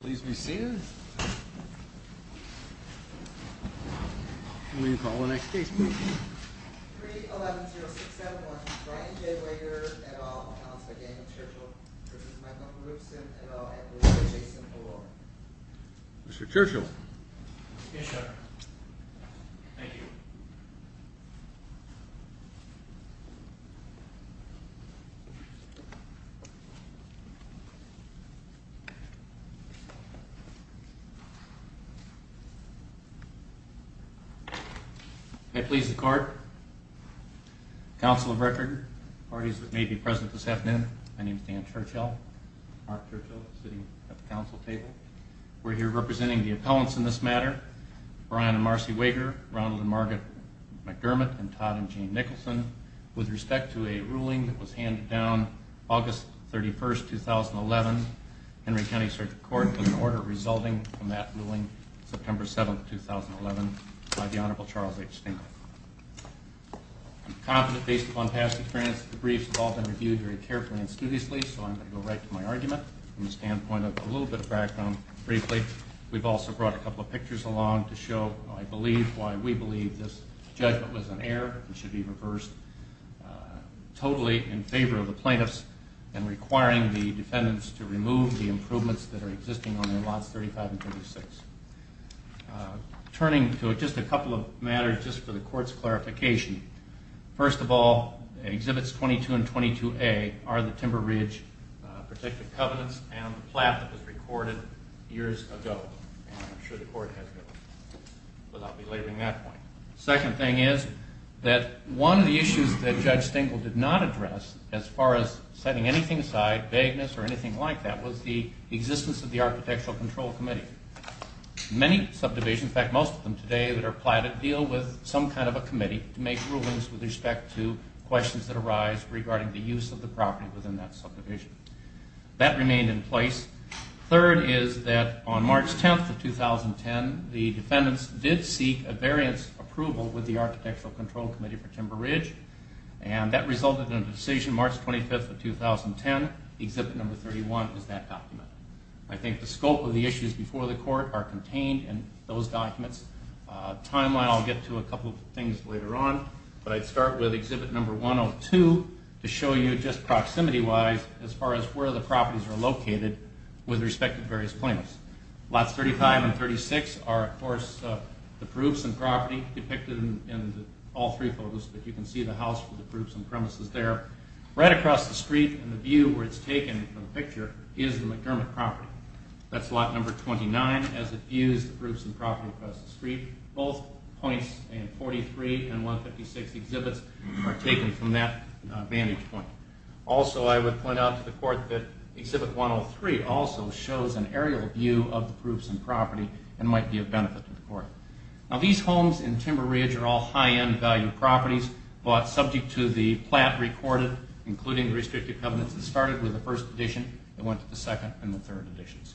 Pleased to be seen. Will you call the next case, please? 3-11-0-6-7-1. Brian J. Wegerer, et al., announced by Daniel Churchill v. Michael Porubcin, et al., at the Louis J. St. Paul. Mr. Churchill. Yes, sir. Thank you. May it please the Court, Council of Record, parties that may be present this afternoon. My name is Dan Churchill, Mark Churchill, sitting at the Council table. We're here representing the appellants in this matter, Brian and Marcy Wegerer, Ronald and Margaret McDermott, and Todd and Jane Nicholson. With respect to a ruling that was handed down August 31st, 2011, Henry County Circuit Court put an order resulting from that ruling, September 7th, 2011, by the Honorable Charles H. Stinkle. I'm confident, based upon past experience, the briefs have all been reviewed very carefully and studiously, so I'm going to go right to my argument, from the standpoint of a little bit of background, briefly. We've also brought a couple of pictures along to show, I believe, why we believe this judgment was an error and should be reversed. Totally in favor of the plaintiffs and requiring the defendants to remove the improvements that are existing on their lots 35 and 36. Turning to just a couple of matters, just for the Court's clarification. First of all, Exhibits 22 and 22A are the Timber Ridge Protective Covenants and the plat that was recorded years ago. And I'm sure the Court has those, but I'll be leaving that point. Second thing is that one of the issues that Judge Stinkle did not address, as far as setting anything aside, vagueness or anything like that, was the existence of the Architectural Control Committee. Many subdivisions, in fact most of them today that are platted, deal with some kind of a committee to make rulings with respect to questions that arise regarding the use of the property within that subdivision. That remained in place. Third is that on March 10th of 2010, the defendants did seek a variance approval with the Architectural Control Committee for Timber Ridge and that resulted in a decision March 25th of 2010. Exhibit number 31 is that document. I think the scope of the issues before the Court are contained in those documents. Timeline, I'll get to a couple of things later on, but I'd start with Exhibit number 102 to show you just proximity-wise as far as where the properties are located with respect to various plaintiffs. Lots 35 and 36 are, of course, the proofs and property depicted in all three photos, but you can see the house with the proofs and premises there. Right across the street in the view where it's taken from the picture is the McDermott property. That's lot number 29 as it views the proofs and property across the street. Both points in 43 and 156 exhibits are taken from that vantage point. Also, I would point out to the Court that Exhibit 103 also shows an aerial view of the proofs and property and might be of benefit to the Court. Now, these homes in Timber Ridge are all high-end value properties, but subject to the plat recorded, including the restricted covenants, it started with the 1st edition and went to the 2nd and the 3rd editions.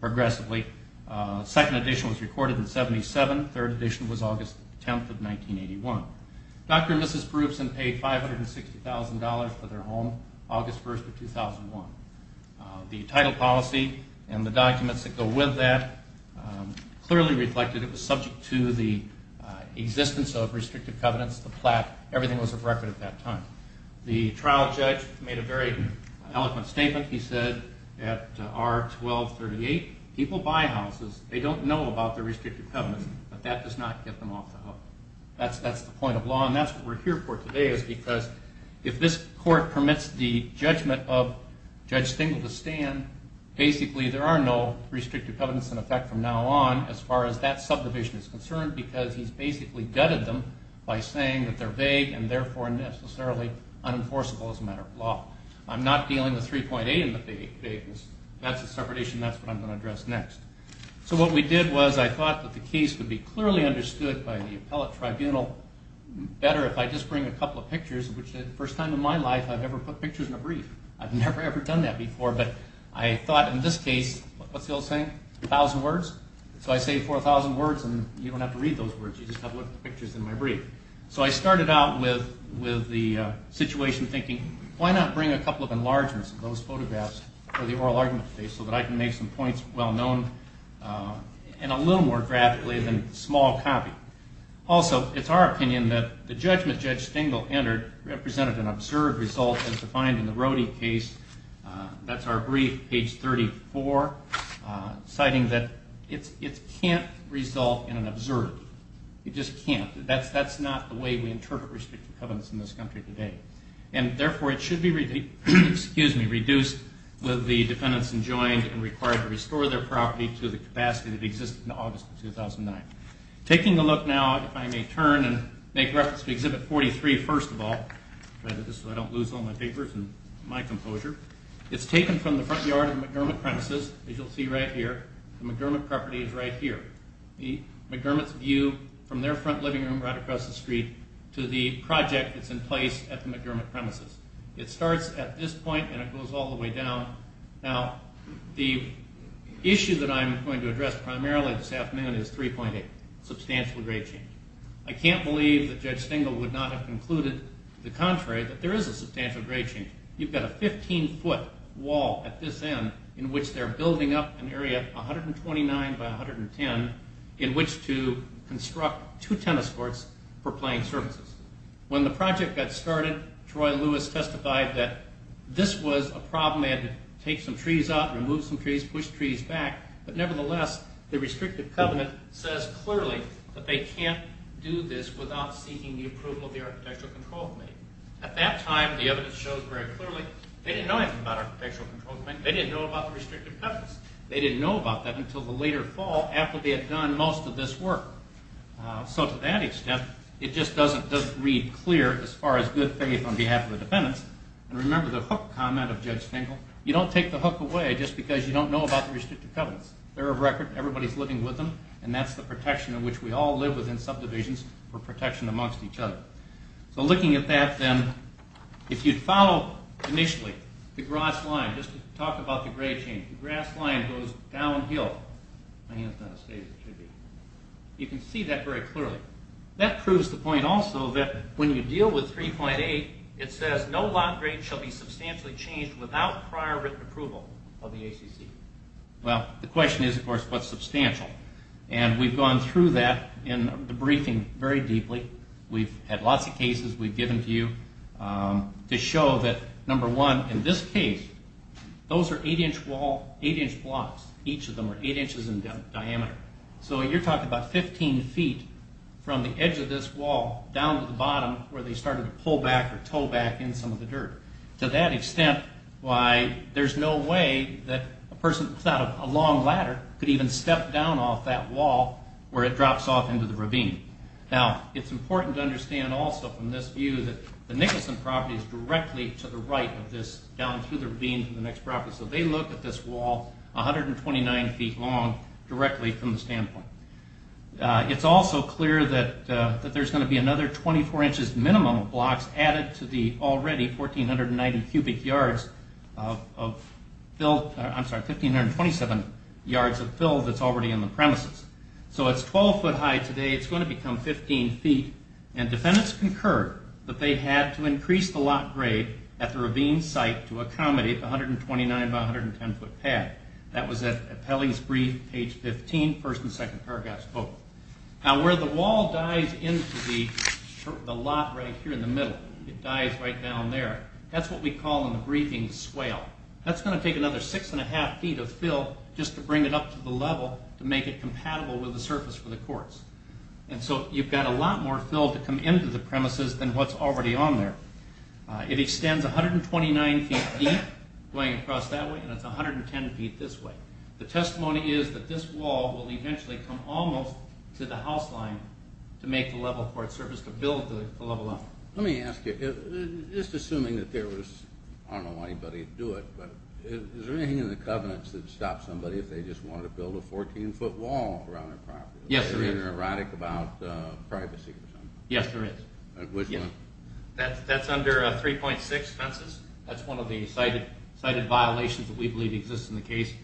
Progressively, 2nd edition was recorded in 77. 3rd edition was August 10th of 1981. Dr. and Mrs. Perupson paid $560,000 for their home August 1st of 2001. The title policy and the documents that go with that clearly reflected it was subject to the existence of restricted covenants, the plat, everything was of record at that time. The trial judge made a very eloquent statement. He said at R-1238, people buy houses, they don't know about the restricted covenants, but that does not get them off the hook. That's the point of law, and that's what we're here for today is because if this Court permits the judgment of Judge Stengel to stand, basically there are no restricted covenants in effect from now on as far as that subdivision is concerned because he's basically gutted them by saying that they're vague and therefore necessarily unenforceable as a matter of law. I'm not dealing with 3.8 and the vagueness. That's a separation. That's what I'm going to address next. So what we did was I thought that the case would be clearly understood by the appellate tribunal better if I just bring a couple of pictures, which is the first time in my life I've ever put pictures in a brief. I've never, ever done that before, but I thought in this case, what's the old saying, 1,000 words? So I say 4,000 words, and you don't have to read those words. You just have to look at the pictures in my brief. So I started out with the situation thinking, why not bring a couple of enlargements of those photographs for the oral argument today so that I can make some points well known and a little more graphically than a small copy. Also, it's our opinion that the judgment Judge Stengel entered represented an absurd result as defined in the Rody case. That's our brief, page 34, citing that it can't result in an absurd. It just can't. That's not the way we interpret restrictive covenants in this country today, and therefore it should be reduced with the defendants enjoined and required to restore their property to the capacity that it existed in August of 2009. Taking a look now, if I may turn and make reference to Exhibit 43 first of all, so I don't lose all my papers and my composure, it's taken from the front yard of the McDermott premises, as you'll see right here. The McDermott property is right here. The McDermott's view from their front living room right across the street to the project that's in place at the McDermott premises. It starts at this point, and it goes all the way down. Now, the issue that I'm going to address primarily this afternoon is 3.8, substantial grade change. I can't believe that Judge Stengel would not have concluded the contrary, that there is a substantial grade change. You've got a 15-foot wall at this end in which they're building up an area of 129 by 110 in which to construct two tennis courts for playing services. When the project got started, Troy Lewis testified that this was a problem because they had to take some trees out, remove some trees, push trees back. But nevertheless, the restrictive covenant says clearly that they can't do this without seeking the approval of the Architectural Control Committee. At that time, the evidence shows very clearly they didn't know anything about Architectural Control Committee. They didn't know about the restrictive covenants. They didn't know about that until the later fall after they had done most of this work. So to that extent, it just doesn't read clear as far as good faith on behalf of the defendants. And remember the hook comment of Judge Stengel. You don't take the hook away just because you don't know about the restrictive covenants. They're a record. Everybody's living with them. And that's the protection in which we all live within subdivisions for protection amongst each other. So looking at that, then, if you'd follow initially the grass line, just to talk about the grade change, the grass line goes downhill. My hand's not as steady as it should be. You can see that very clearly. That proves the point also that when you deal with 3.8, it says no lot grade shall be substantially changed without prior written approval of the ACC. Well, the question is, of course, what's substantial? And we've gone through that in the briefing very deeply. We've had lots of cases we've given to you to show that, number one, in this case, those are 8-inch blocks. Each of them are 8 inches in diameter. So you're talking about 15 feet from the edge of this wall down to the bottom where they started to pull back or tow back in some of the dirt. To that extent, why there's no way that a person without a long ladder could even step down off that wall where it drops off into the ravine. Now, it's important to understand also from this view that the Nicholson property is directly to the right of this down through the ravine to the next property. So they look at this wall 129 feet long directly from the standpoint. It's also clear that there's going to be another 24 inches minimum of blocks added to the already 1,490 cubic yards of fill. I'm sorry, 1,527 yards of fill that's already in the premises. So it's 12 foot high today. It's going to become 15 feet. And defendants concur that they had to increase the lot grade at the ravine site to accommodate the 129 by 110 foot path. That was at Appelling's brief, page 15, first and second paragraphs both. Now, where the wall dies into the lot right here in the middle, it dies right down there. That's what we call in the briefing swale. That's going to take another 6 1⁄2 feet of fill just to bring it up to the level to make it compatible with the surface for the courts. And so you've got a lot more fill to come into the premises than what's already on there. It extends 129 feet deep going across that way, and it's 110 feet this way. The testimony is that this wall will eventually come almost to the house line to make the level for its surface to build the level up. Let me ask you, just assuming that there was, I don't know why anybody would do it, but is there anything in the covenants that would stop somebody if they just wanted to build a 14-foot wall around their property? Yes, there is. Is there anything erratic about privacy or something? Yes, there is. Which one? That's under 3.6 fences. That's one of the cited violations that we believe exists in the case. It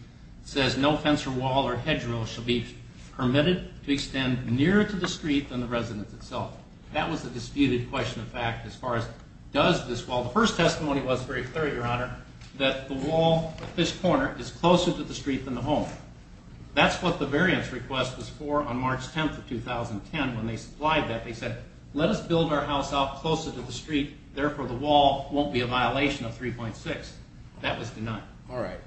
says no fence or wall or hedgerow shall be permitted to extend nearer to the street than the residence itself. That was the disputed question of fact as far as does this wall. The first testimony was very clear, Your Honor, that the wall at this corner is closer to the street than the home. That's what the variance request was for on March 10th of 2010. When they supplied that, they said, let us build our house out closer to the street, therefore the wall won't be a violation of 3.6. That was denied. All right.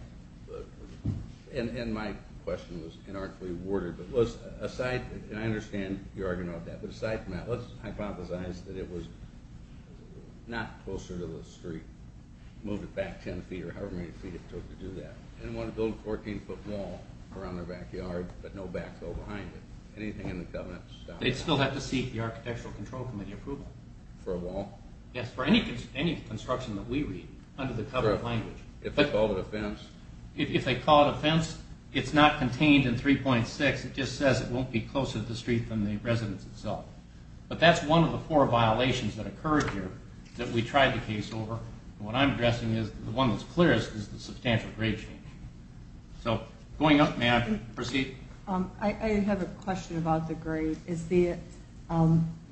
And my question was inarticulately worded. I understand you're arguing about that, but aside from that, let's hypothesize that it was not closer to the street, moved it back 10 feet or however many feet it took to do that, and wanted to build a 14-foot wall around their backyard but no backhoe behind it. Anything in the covenant? They'd still have to seek the Architectural Control Committee approval. For a wall? Yes, for any construction that we read under the covenant language. If they call it a fence? If they call it a fence, it's not contained in 3.6. It just says it won't be closer to the street than the residence itself. But that's one of the four violations that occurred here that we tried the case over. What I'm addressing is the one that's clearest is the substantial grade change. So going up, may I proceed? I have a question about the grade. Is the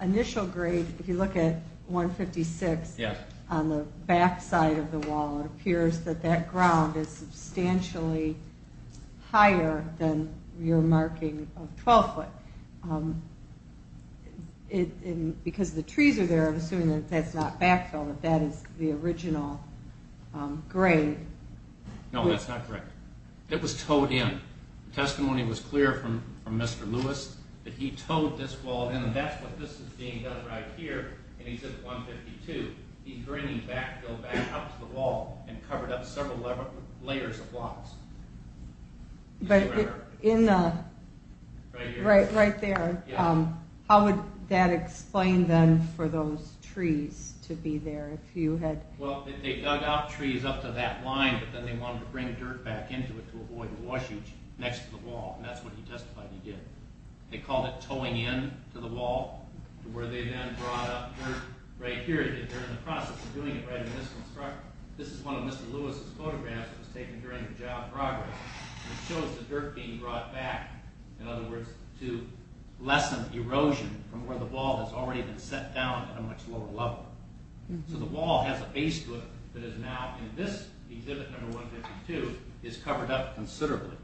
initial grade, if you look at 156, on the backside of the wall, it appears that that ground is substantially higher than your marking of 12 foot. Because the trees are there, I'm assuming that that's not backfill, that that is the original grade. No, that's not correct. It was towed in. The testimony was clear from Mr. Lewis that he towed this wall in, and that's what this is being done right here. And he said at 152, he's bringing backfill back up to the wall and covered up several layers of blocks. Right there. How would that explain then for those trees to be there? Well, they dug out trees up to that line, but then they wanted to bring dirt back into it to avoid washage next to the wall, and that's what he testified he did. They called it towing in to the wall, to where they then brought up dirt right here. They're in the process of doing it right in this construct. This is one of Mr. Lewis' photographs that was taken during the job progress. It shows the dirt being brought back, in other words, to lessen erosion from where the wall has already been set down at a much lower level. So the wall has a base to it that is now, in this exhibit number 152, is covered up considerably.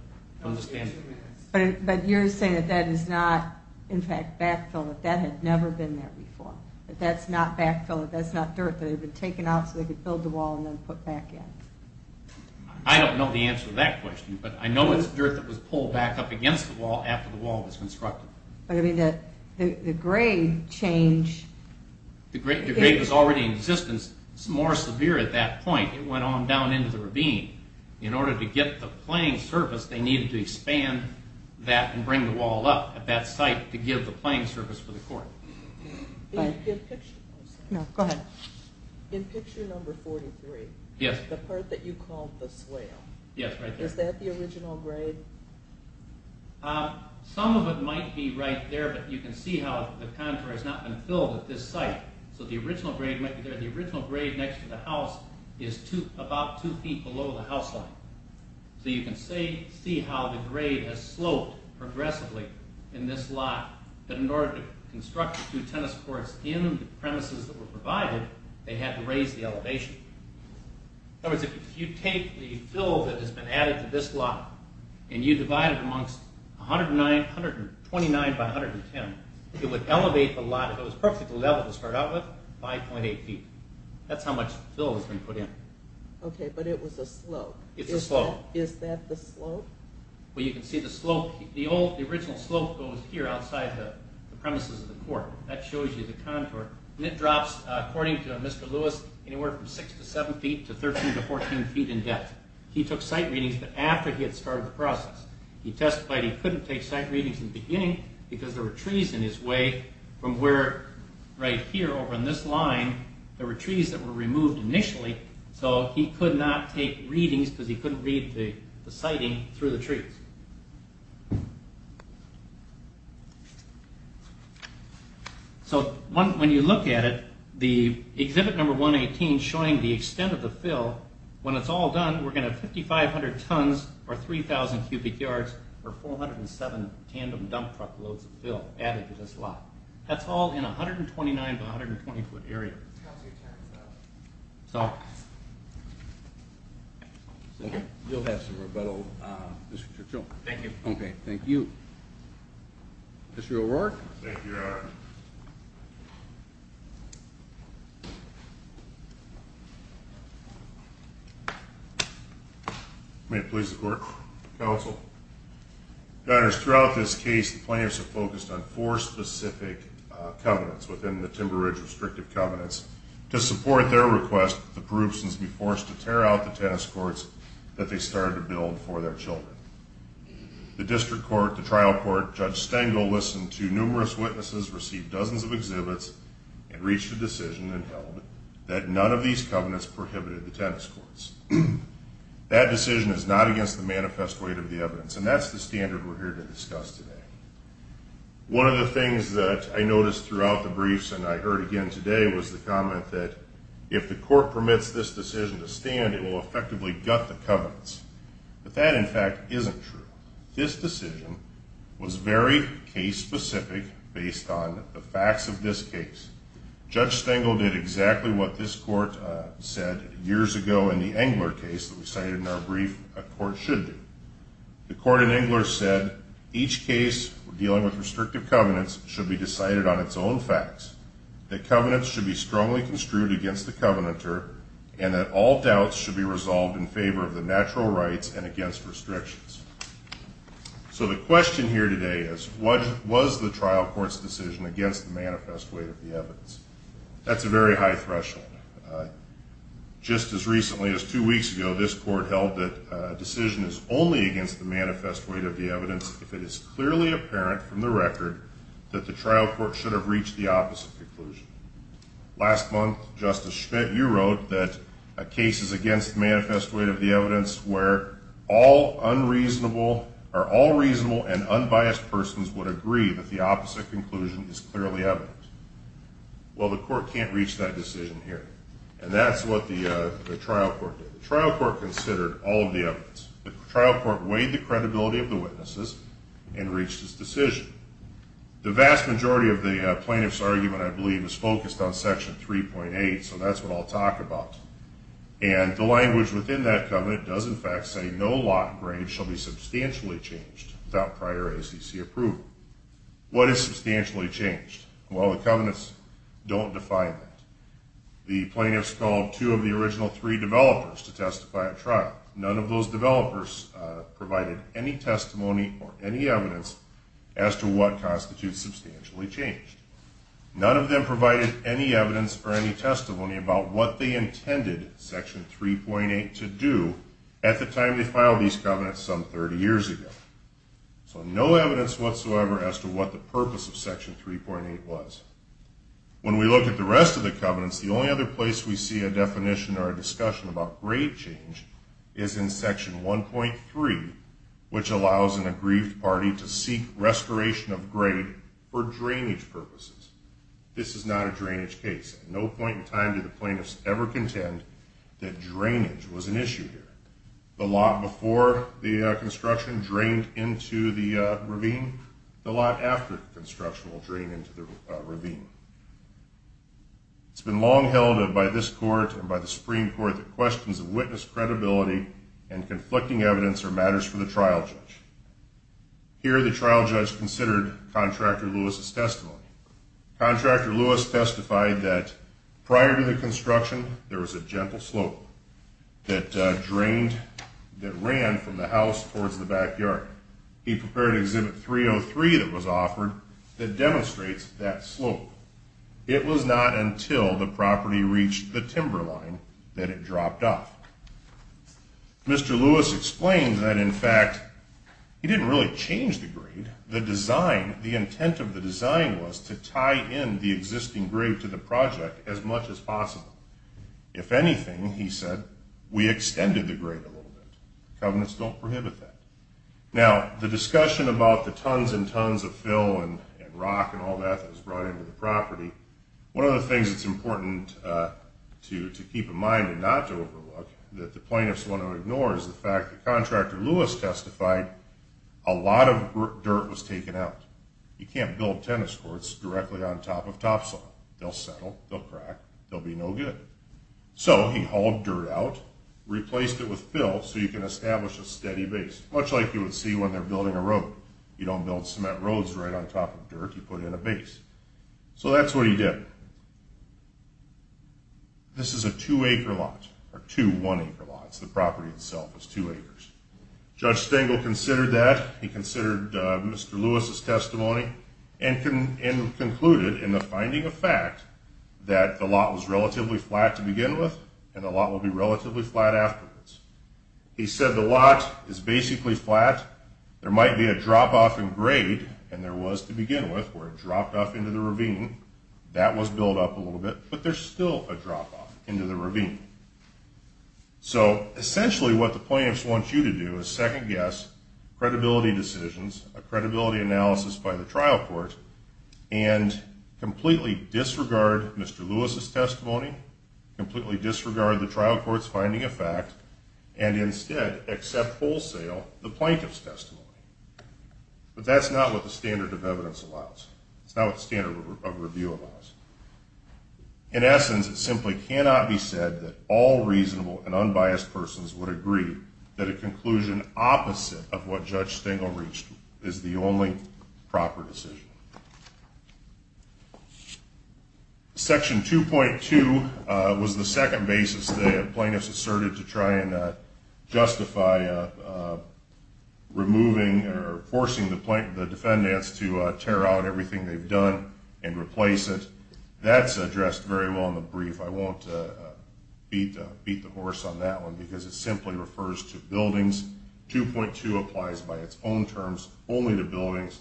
But you're saying that that is not, in fact, backfill, that that had never been there before. That that's not backfill, that that's not dirt that had been taken out so they could build the wall and then put back in. I don't know the answer to that question, but I know it's dirt that was pulled back up against the wall after the wall was constructed. The grade change... The grade was already in existence. It's more severe at that point. It went on down into the ravine. In order to get the playing surface, they needed to expand that and bring the wall up at that site to give the playing surface for the court. In picture number 43, the part that you called the swale, is that the original grade? Some of it might be right there, but you can see how the contour has not been filled at this site. So the original grade might be there. The original grade next to the house is about two feet below the house line. So you can see how the grade has sloped progressively in this lot. But in order to construct the two tennis courts in the premises that were provided, they had to raise the elevation. In other words, if you take the fill that has been added to this lot and you divide it amongst 109, 129 by 110, it would elevate the lot. It was perfectly level to start out with, 5.8 feet. That's how much fill has been put in. Okay, but it was a slope. It's a slope. Is that the slope? Well, you can see the slope. The original slope goes here outside the premises of the court. That shows you the contour. It drops, according to Mr. Lewis, anywhere from 6 to 7 feet to 13 to 14 feet in depth. He took site readings after he had started the process. He testified he couldn't take site readings in the beginning because there were trees in his way from where, right here, over on this line, there were trees that were removed initially. So he could not take readings because he couldn't read the sighting through the trees. So when you look at it, the exhibit number 118 showing the extent of the fill, when it's all done, we're going to have 5,500 tons, or 3,000 cubic yards, or 407 tandem dump truck loads of fill added to this lot. That's all in a 129- to 120-foot area. You'll have some rebuttal, Mr. Churchill. Thank you. Okay, thank you. Mr. O'Rourke. Thank you, Your Honor. May it please the court. Counsel. Your Honor, throughout this case, the plaintiffs have focused on four specific covenants within the Timber Ridge restrictive covenants. To support their request, the Paroopsons be forced to tear out the tennis courts that they started to build for their children. The district court, the trial court, Judge Stengel, listened to numerous witnesses, received dozens of exhibits, and reached a decision and held that none of these covenants prohibited the tennis courts. That decision is not against the manifest weight of the evidence, and that's the standard we're here to discuss today. One of the things that I noticed throughout the briefs and I heard again today was the comment that if the court permits this decision to stand, it will effectively gut the covenants. But that, in fact, isn't true. This decision was very case-specific based on the facts of this case. Judge Stengel did exactly what this court said years ago in the Engler case that we cited in our brief, a court should do. The court in Engler said, each case dealing with restrictive covenants should be decided on its own facts, that covenants should be strongly construed against the covenanter, and that all doubts should be resolved in favor of the natural rights and against restrictions. So the question here today is, was the trial court's decision against the manifest weight of the evidence? That's a very high threshold. Just as recently as two weeks ago, this court held that a decision is only against the manifest weight of the evidence if it is clearly apparent from the record that the trial court should have reached the opposite conclusion. Last month, Justice Schmidt, you wrote that a case is against the manifest weight of the evidence where all reasonable and unbiased persons would agree that the opposite conclusion is clearly evident. Well, the court can't reach that decision here. And that's what the trial court did. The trial court considered all of the evidence. The trial court weighed the credibility of the witnesses and reached its decision. The vast majority of the plaintiff's argument, I believe, is focused on Section 3.8, so that's what I'll talk about. And the language within that covenant does, in fact, say no lot grade shall be substantially changed without prior ACC approval. What is substantially changed? Well, the covenants don't define that. The plaintiffs called two of the original three developers to testify at trial. None of those developers provided any testimony or any evidence as to what constitutes substantially changed. None of them provided any evidence or any testimony about what they intended Section 3.8 to do at the time they filed these covenants some 30 years ago. So no evidence whatsoever as to what the purpose of Section 3.8 was. When we look at the rest of the covenants, the only other place we see a definition or a discussion about grade change is in Section 1.3, which allows an aggrieved party to seek restoration of grade for drainage purposes. This is not a drainage case. At no point in time did the plaintiffs ever contend that drainage was an issue here. The lot before the construction drained into the ravine. The lot after construction will drain into the ravine. It's been long held by this Court and by the Supreme Court that questions of witness credibility and conflicting evidence are matters for the trial judge. Here, the trial judge considered Contractor Lewis's testimony. Contractor Lewis testified that prior to the construction, there was a gentle slope that ran from the house towards the backyard. He prepared Exhibit 303 that was offered that demonstrates that slope. It was not until the property reached the timber line that it dropped off. Mr. Lewis explains that, in fact, he didn't really change the grade. The intent of the design was to tie in the existing grade to the project as much as possible. If anything, he said, we extended the grade a little bit. Covenants don't prohibit that. Now, the discussion about the tons and tons of fill and rock and all that that was brought into the property, one of the things that's important to keep in mind and not to overlook that the plaintiffs want to ignore is the fact that Contractor Lewis testified a lot of dirt was taken out. You can't build tennis courts directly on top of topsoil. They'll settle, they'll crack, they'll be no good. So he hauled dirt out, replaced it with fill so you can establish a steady base, much like you would see when they're building a road. You don't build cement roads right on top of dirt. You put in a base. So that's what he did. This is a two-acre lot, or two one-acre lots. The property itself is two acres. Judge Stengel considered that. He considered Mr. Lewis's testimony and concluded in the finding of fact that the lot was relatively flat to begin with and the lot will be relatively flat afterwards. He said the lot is basically flat. There might be a drop-off in grade, and there was to begin with, where it dropped off into the ravine. That was built up a little bit, but there's still a drop-off into the ravine. So essentially what the plaintiffs want you to do is second-guess credibility decisions, a credibility analysis by the trial court, and completely disregard Mr. Lewis's testimony, completely disregard the trial court's finding of fact, and instead accept wholesale the plaintiff's testimony. But that's not what the standard of evidence allows. That's not what the standard of review allows. In essence, it simply cannot be said that all reasonable and unbiased persons would agree that a conclusion opposite of what Judge Stengel reached is the only proper decision. Section 2.2 was the second basis that plaintiffs asserted to try and justify removing or forcing the defendants to tear out everything they've done and replace it. That's addressed very well in the brief. I won't beat the horse on that one because it simply refers to buildings. 2.2 applies by its own terms only to buildings.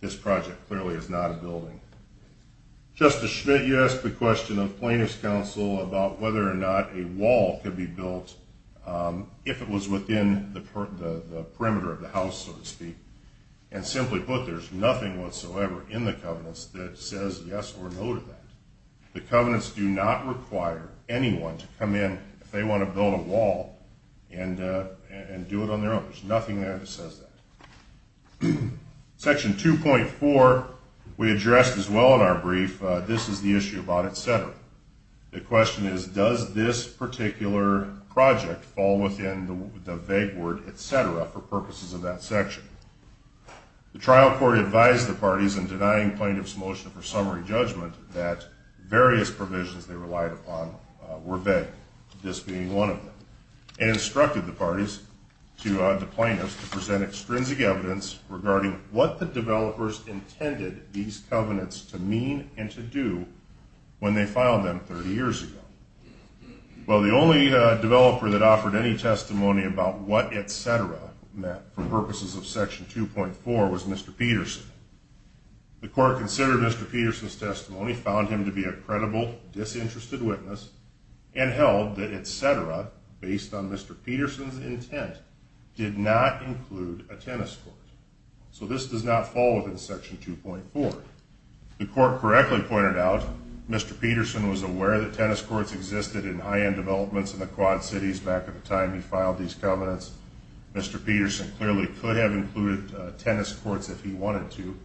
This project clearly is not a building. Justice Schmidt, you asked the question of plaintiffs' counsel about whether or not a wall could be built if it was within the perimeter of the house, so to speak. And simply put, there's nothing whatsoever in the covenants that says yes or no to that. The covenants do not require anyone to come in if they want to build a wall and do it on their own. There's nothing there that says that. Section 2.4 we addressed as well in our brief. This is the issue about et cetera. The question is, does this particular project fall within the vague word et cetera for purposes of that section? The trial court advised the parties in denying plaintiffs' motion for summary judgment that various provisions they relied upon were vague, this being one of them, and instructed the parties to the plaintiffs to present extrinsic evidence regarding what the developers intended these covenants to mean and to do when they filed them 30 years ago. Well, the only developer that offered any testimony about what et cetera meant for purposes of Section 2.4 was Mr. Peterson. The court considered Mr. Peterson's testimony, found him to be a credible, disinterested witness, and held that et cetera, based on Mr. Peterson's intent, did not include a tennis court. So this does not fall within Section 2.4. The court correctly pointed out Mr. Peterson was aware that tennis courts existed in high-end developments in the Quad Cities back at the time he filed these covenants. Mr. Peterson clearly could have included tennis courts if he wanted to,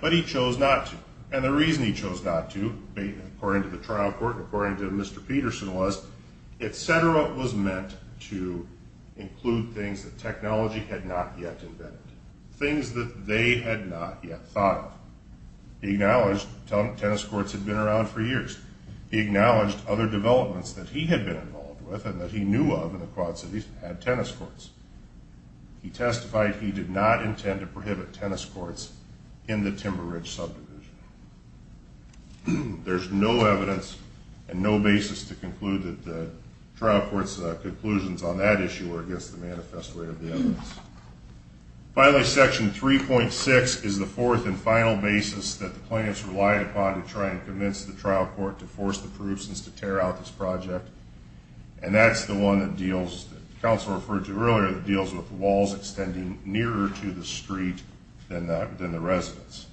but he chose not to. And the reason he chose not to, according to the trial court and according to Mr. Peterson, was et cetera was meant to include things that technology had not yet invented, things that they had not yet thought of. He acknowledged tennis courts had been around for years. He acknowledged other developments that he had been involved with and that he knew of in the Quad Cities had tennis courts. He testified he did not intend to prohibit tennis courts in the Timber Ridge subdivision. There's no evidence and no basis to conclude that the trial court's conclusions on that issue were against the manifest way of the evidence. Finally, Section 3.6 is the fourth and final basis that the plaintiffs relied upon to try and convince the trial court to force the proofs and to tear out this project. And that's the one that deals, the counsel referred to earlier, that deals with walls extending nearer to the street than the residents.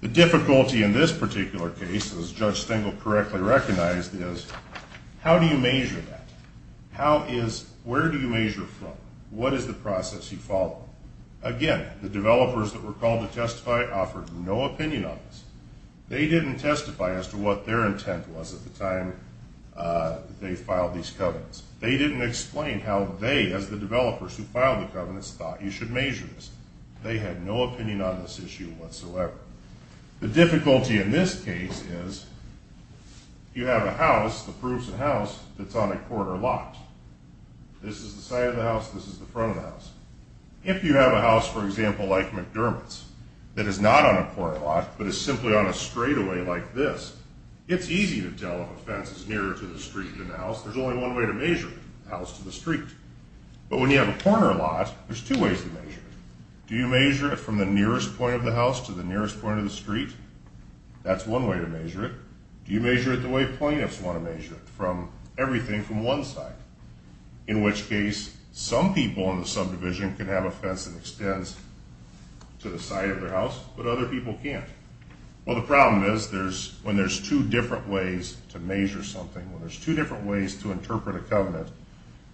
The difficulty in this particular case, as Judge Stengel correctly recognized, is how do you measure that? How is, where do you measure from? What is the process you follow? Again, the developers that were called to testify offered no opinion on this. They didn't testify as to what their intent was at the time that they filed these covenants. They didn't explain how they, as the developers who filed the covenants, thought you should measure this. They had no opinion on this issue whatsoever. The difficulty in this case is you have a house, the proofs of the house, that's on a quarter lot. This is the side of the house. This is the front of the house. If you have a house, for example, like McDermott's, that is not on a quarter lot but is simply on a straightaway like this, it's easy to tell if a fence is nearer to the street than the house. There's only one way to measure it, the house to the street. But when you have a corner lot, there's two ways to measure it. Do you measure it from the nearest point of the house to the nearest point of the street? That's one way to measure it. Do you measure it the way plaintiffs want to measure it, from everything from one side? In which case, some people in the subdivision can have a fence that extends to the side of their house, but other people can't. Well, the problem is when there's two different ways to measure something, when there's two different ways to interpret a covenant,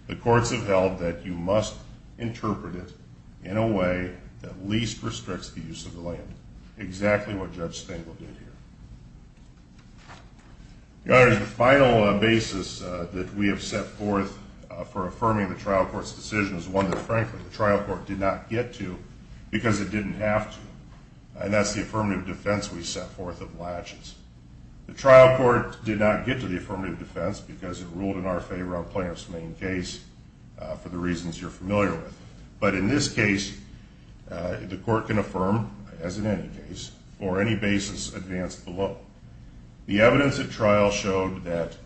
the courts have held that you must interpret it in a way that least restricts the use of the land, exactly what Judge Stengel did here. The other is the final basis that we have set forth for affirming the trial court's decision is one that, frankly, the trial court did not get to because it didn't have to, and that's the affirmative defense we set forth of latches. The trial court did not get to the affirmative defense because it ruled in our favor on plaintiff's main case, for the reasons you're familiar with. But in this case, the court can affirm, as in any case, for any basis advanced below. The evidence at trial showed that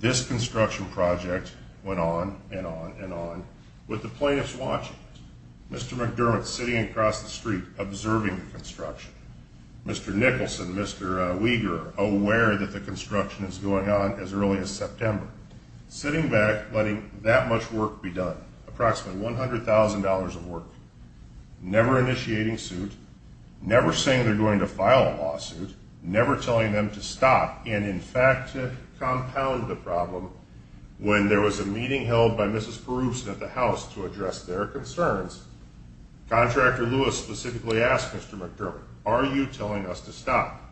this construction project went on and on and on with the plaintiffs watching it. Mr. McDermott sitting across the street observing the construction. Mr. Nicholson, Mr. Weger, aware that the construction is going on as early as September, sitting back, letting that much work be done, approximately $100,000 of work, never initiating suit, never saying they're going to file a lawsuit, never telling them to stop and, in fact, compound the problem when there was a meeting held by Mrs. Peruse at the House to address their concerns. Contractor Lewis specifically asked Mr. McDermott, are you telling us to stop?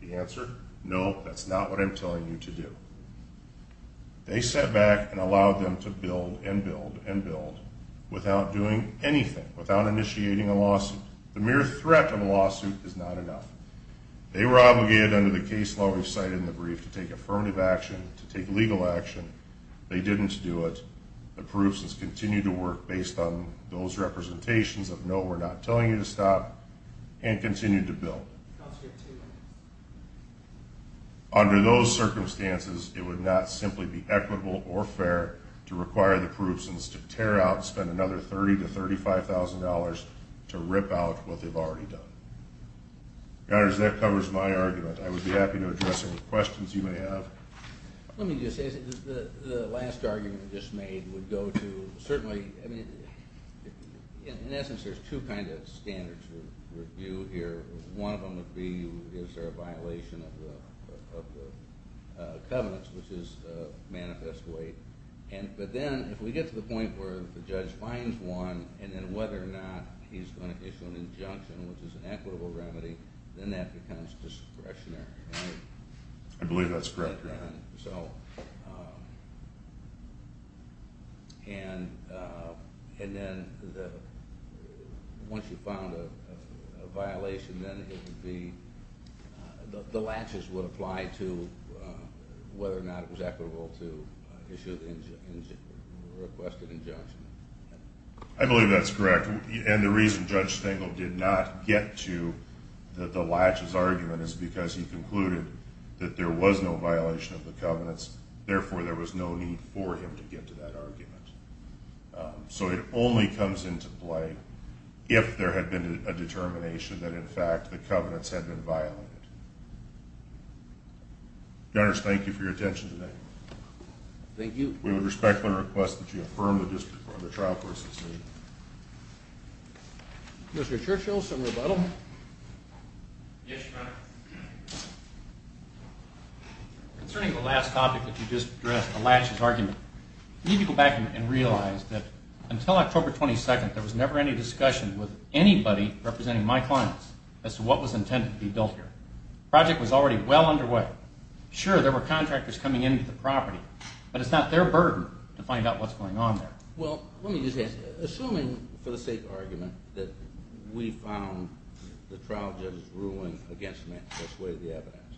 The answer, no, that's not what I'm telling you to do. They sat back and allowed them to build and build and build without doing anything, without initiating a lawsuit. The mere threat of a lawsuit is not enough. They were obligated under the case law we've cited in the brief to take affirmative action, to take legal action. They didn't do it. Peruse has continued to work based on those representations of no, we're not telling you to stop, and continued to build. Counsel, you have two minutes. Under those circumstances, it would not simply be equitable or fair to require the Perusians to tear out and spend another $30,000 to $35,000 to rip out what they've already done. Your Honors, that covers my argument. I would be happy to address any questions you may have. Let me just say the last argument you just made would go to certainly, I mean, in essence, there's two kinds of standards for review here. One of them would be is there a violation of the covenants, which is manifest weight. But then if we get to the point where the judge finds one and then whether or not he's going to issue an injunction, which is an equitable remedy, then that becomes discretionary. I believe that's correct, Your Honor. And then once you've found a violation, then the latches would apply to whether or not it was equitable to issue the requested injunction. I believe that's correct. And the reason Judge Stengel did not get to the latches argument is because he concluded that there was no violation of the covenants. Therefore, there was no need for him to get to that argument. So it only comes into play if there had been a determination that, in fact, the covenants had been violated. Your Honors, thank you for your attention today. Thank you. We would respectfully request that you affirm the district court and the trial court's decision. Mr. Churchill, some rebuttal? Yes, Your Honor. Concerning the last topic that you just addressed, the latches argument, you need to go back and realize that until October 22nd, there was never any discussion with anybody representing my clients as to what was intended to be built here. The project was already well underway. Sure, there were contractors coming into the property, but it's not their burden to find out what's going on there. Well, let me just ask you, assuming, for the sake of argument, that we found the trial judge's ruling against me to dissuade the evidence,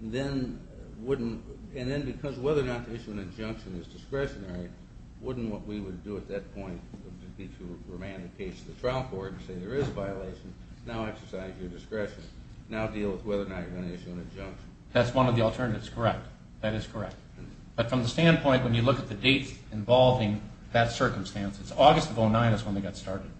and then because whether or not to issue an injunction is discretionary, wouldn't what we would do at that point be to remand the case to the trial court and say there is a violation, now exercise your discretion, now deal with whether or not you're going to issue an injunction? That's one of the alternatives, correct. That is correct. But from the standpoint, when you look at the dates involving that circumstance, August of 2009 is when they got started.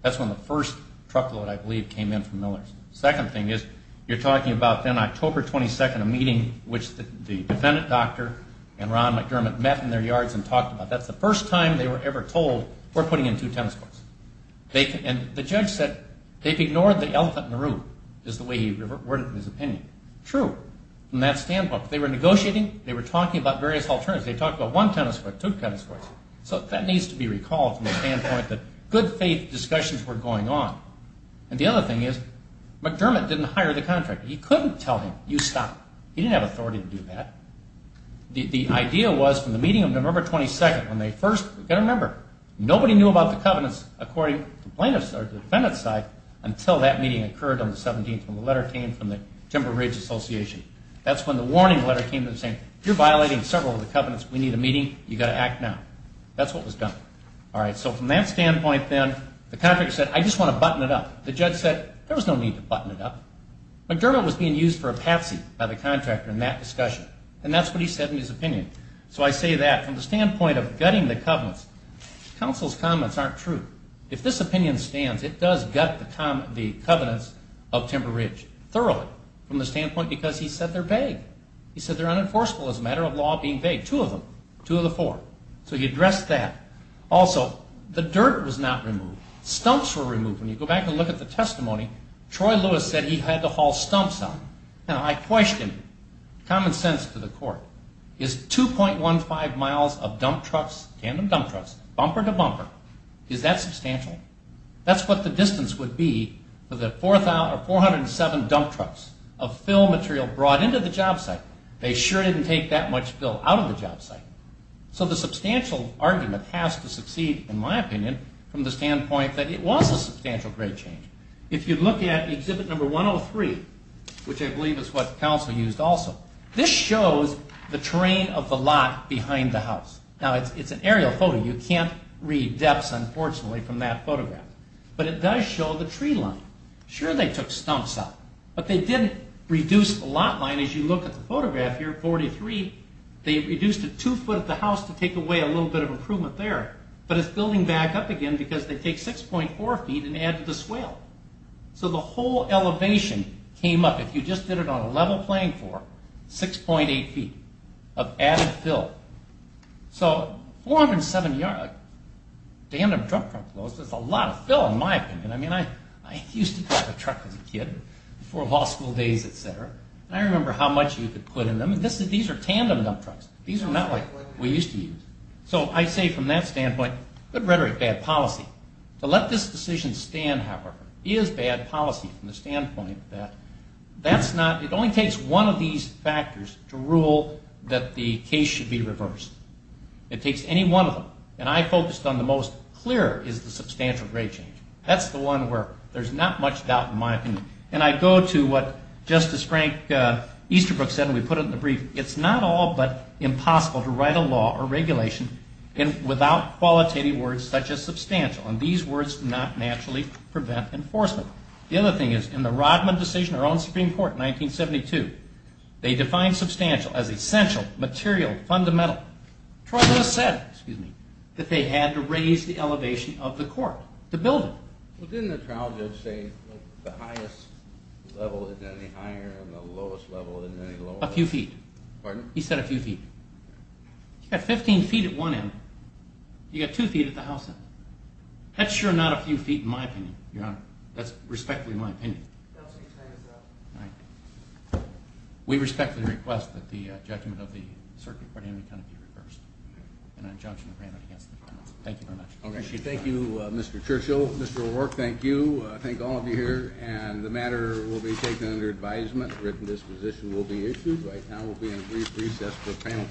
That's when the first truckload, I believe, came in from Millers. The second thing is you're talking about then October 22nd, a meeting which the defendant doctor and Ron McDermott met in their yards and talked about. That's the first time they were ever told we're putting in two tennis courts. And the judge said they've ignored the elephant in the room, is the way he worded his opinion. True. From that standpoint, they were negotiating, they were talking about various alternatives. They talked about one tennis court, two tennis courts. So that needs to be recalled from the standpoint that good faith discussions were going on. And the other thing is McDermott didn't hire the contractor. He couldn't tell him, you stop. He didn't have authority to do that. The idea was from the meeting of November 22nd, when they first got a number, nobody knew about the covenants according to the plaintiff's or the defendant's side until that meeting occurred on the 17th when the letter came from the Timber Ridge Association. That's when the warning letter came to them saying, you're violating several of the covenants. We need a meeting. You've got to act now. That's what was done. So from that standpoint then, the contractor said, I just want to button it up. The judge said there was no need to button it up. McDermott was being used for a patsy by the contractor in that discussion, and that's what he said in his opinion. So I say that from the standpoint of gutting the covenants, counsel's comments aren't true. If this opinion stands, it does gut the covenants of Timber Ridge thoroughly from the standpoint because he said they're vague. He said they're unenforceable as a matter of law being vague, two of them, two of the four. So he addressed that. Also, the dirt was not removed. Stumps were removed. When you go back and look at the testimony, Troy Lewis said he had to haul stumps out. Now, I question common sense to the court. Is 2.15 miles of dump trucks, tandem dump trucks, bumper to bumper, is that substantial? That's what the distance would be for the 407 dump trucks of fill material brought into the job site. They sure didn't take that much fill out of the job site. So the substantial argument has to succeed, in my opinion, from the standpoint that it was a substantial grade change. If you look at Exhibit 103, which I believe is what counsel used also, this shows the terrain of the lot behind the house. Now, it's an aerial photo. You can't read depths, unfortunately, from that photograph. But it does show the tree line. Sure, they took stumps out. But they did reduce the lot line. As you look at the photograph here, 43, they reduced it two foot at the house to take away a little bit of improvement there. But it's building back up again because they take 6.4 feet and add to the swale. So the whole elevation came up, if you just did it on a level playing floor, 6.8 feet of added fill. So 407 yard tandem dump truck loads, that's a lot of fill, in my opinion. I mean, I used to drive a truck as a kid before law school days, et cetera. And I remember how much you could put in them. These are tandem dump trucks. These are not like what we used to use. So I say from that standpoint, good rhetoric, bad policy. To let this decision stand, however, is bad policy from the standpoint that it only takes one of these factors to rule that the case should be reversed. It takes any one of them. And I focused on the most clear is the substantial grade change. That's the one where there's not much doubt, in my opinion. And I go to what Justice Frank Easterbrook said, and we put it in the brief. It's not all but impossible to write a law or regulation without qualitative words such as substantial. And these words do not naturally prevent enforcement. The other thing is, in the Rodman decision around the Supreme Court in 1972, they defined substantial as essential, material, fundamental. Trial judge said that they had to raise the elevation of the court to build it. Well, didn't the trial judge say the highest level is any higher and the lowest level is any lower? A few feet. Pardon? He said a few feet. You've got 15 feet at one end. You've got two feet at the house end. That's sure not a few feet in my opinion, Your Honor. That's respectfully my opinion. That's what he said. All right. We respectfully request that the judgment of the circuit court in the county be reversed. An injunction granted against the defense. Thank you very much. Thank you, Mr. Churchill. Mr. O'Rourke, thank you. I thank all of you here. And the matter will be taken under advisement. A written disposition will be issued. Right now we'll be in brief recess for panel changes.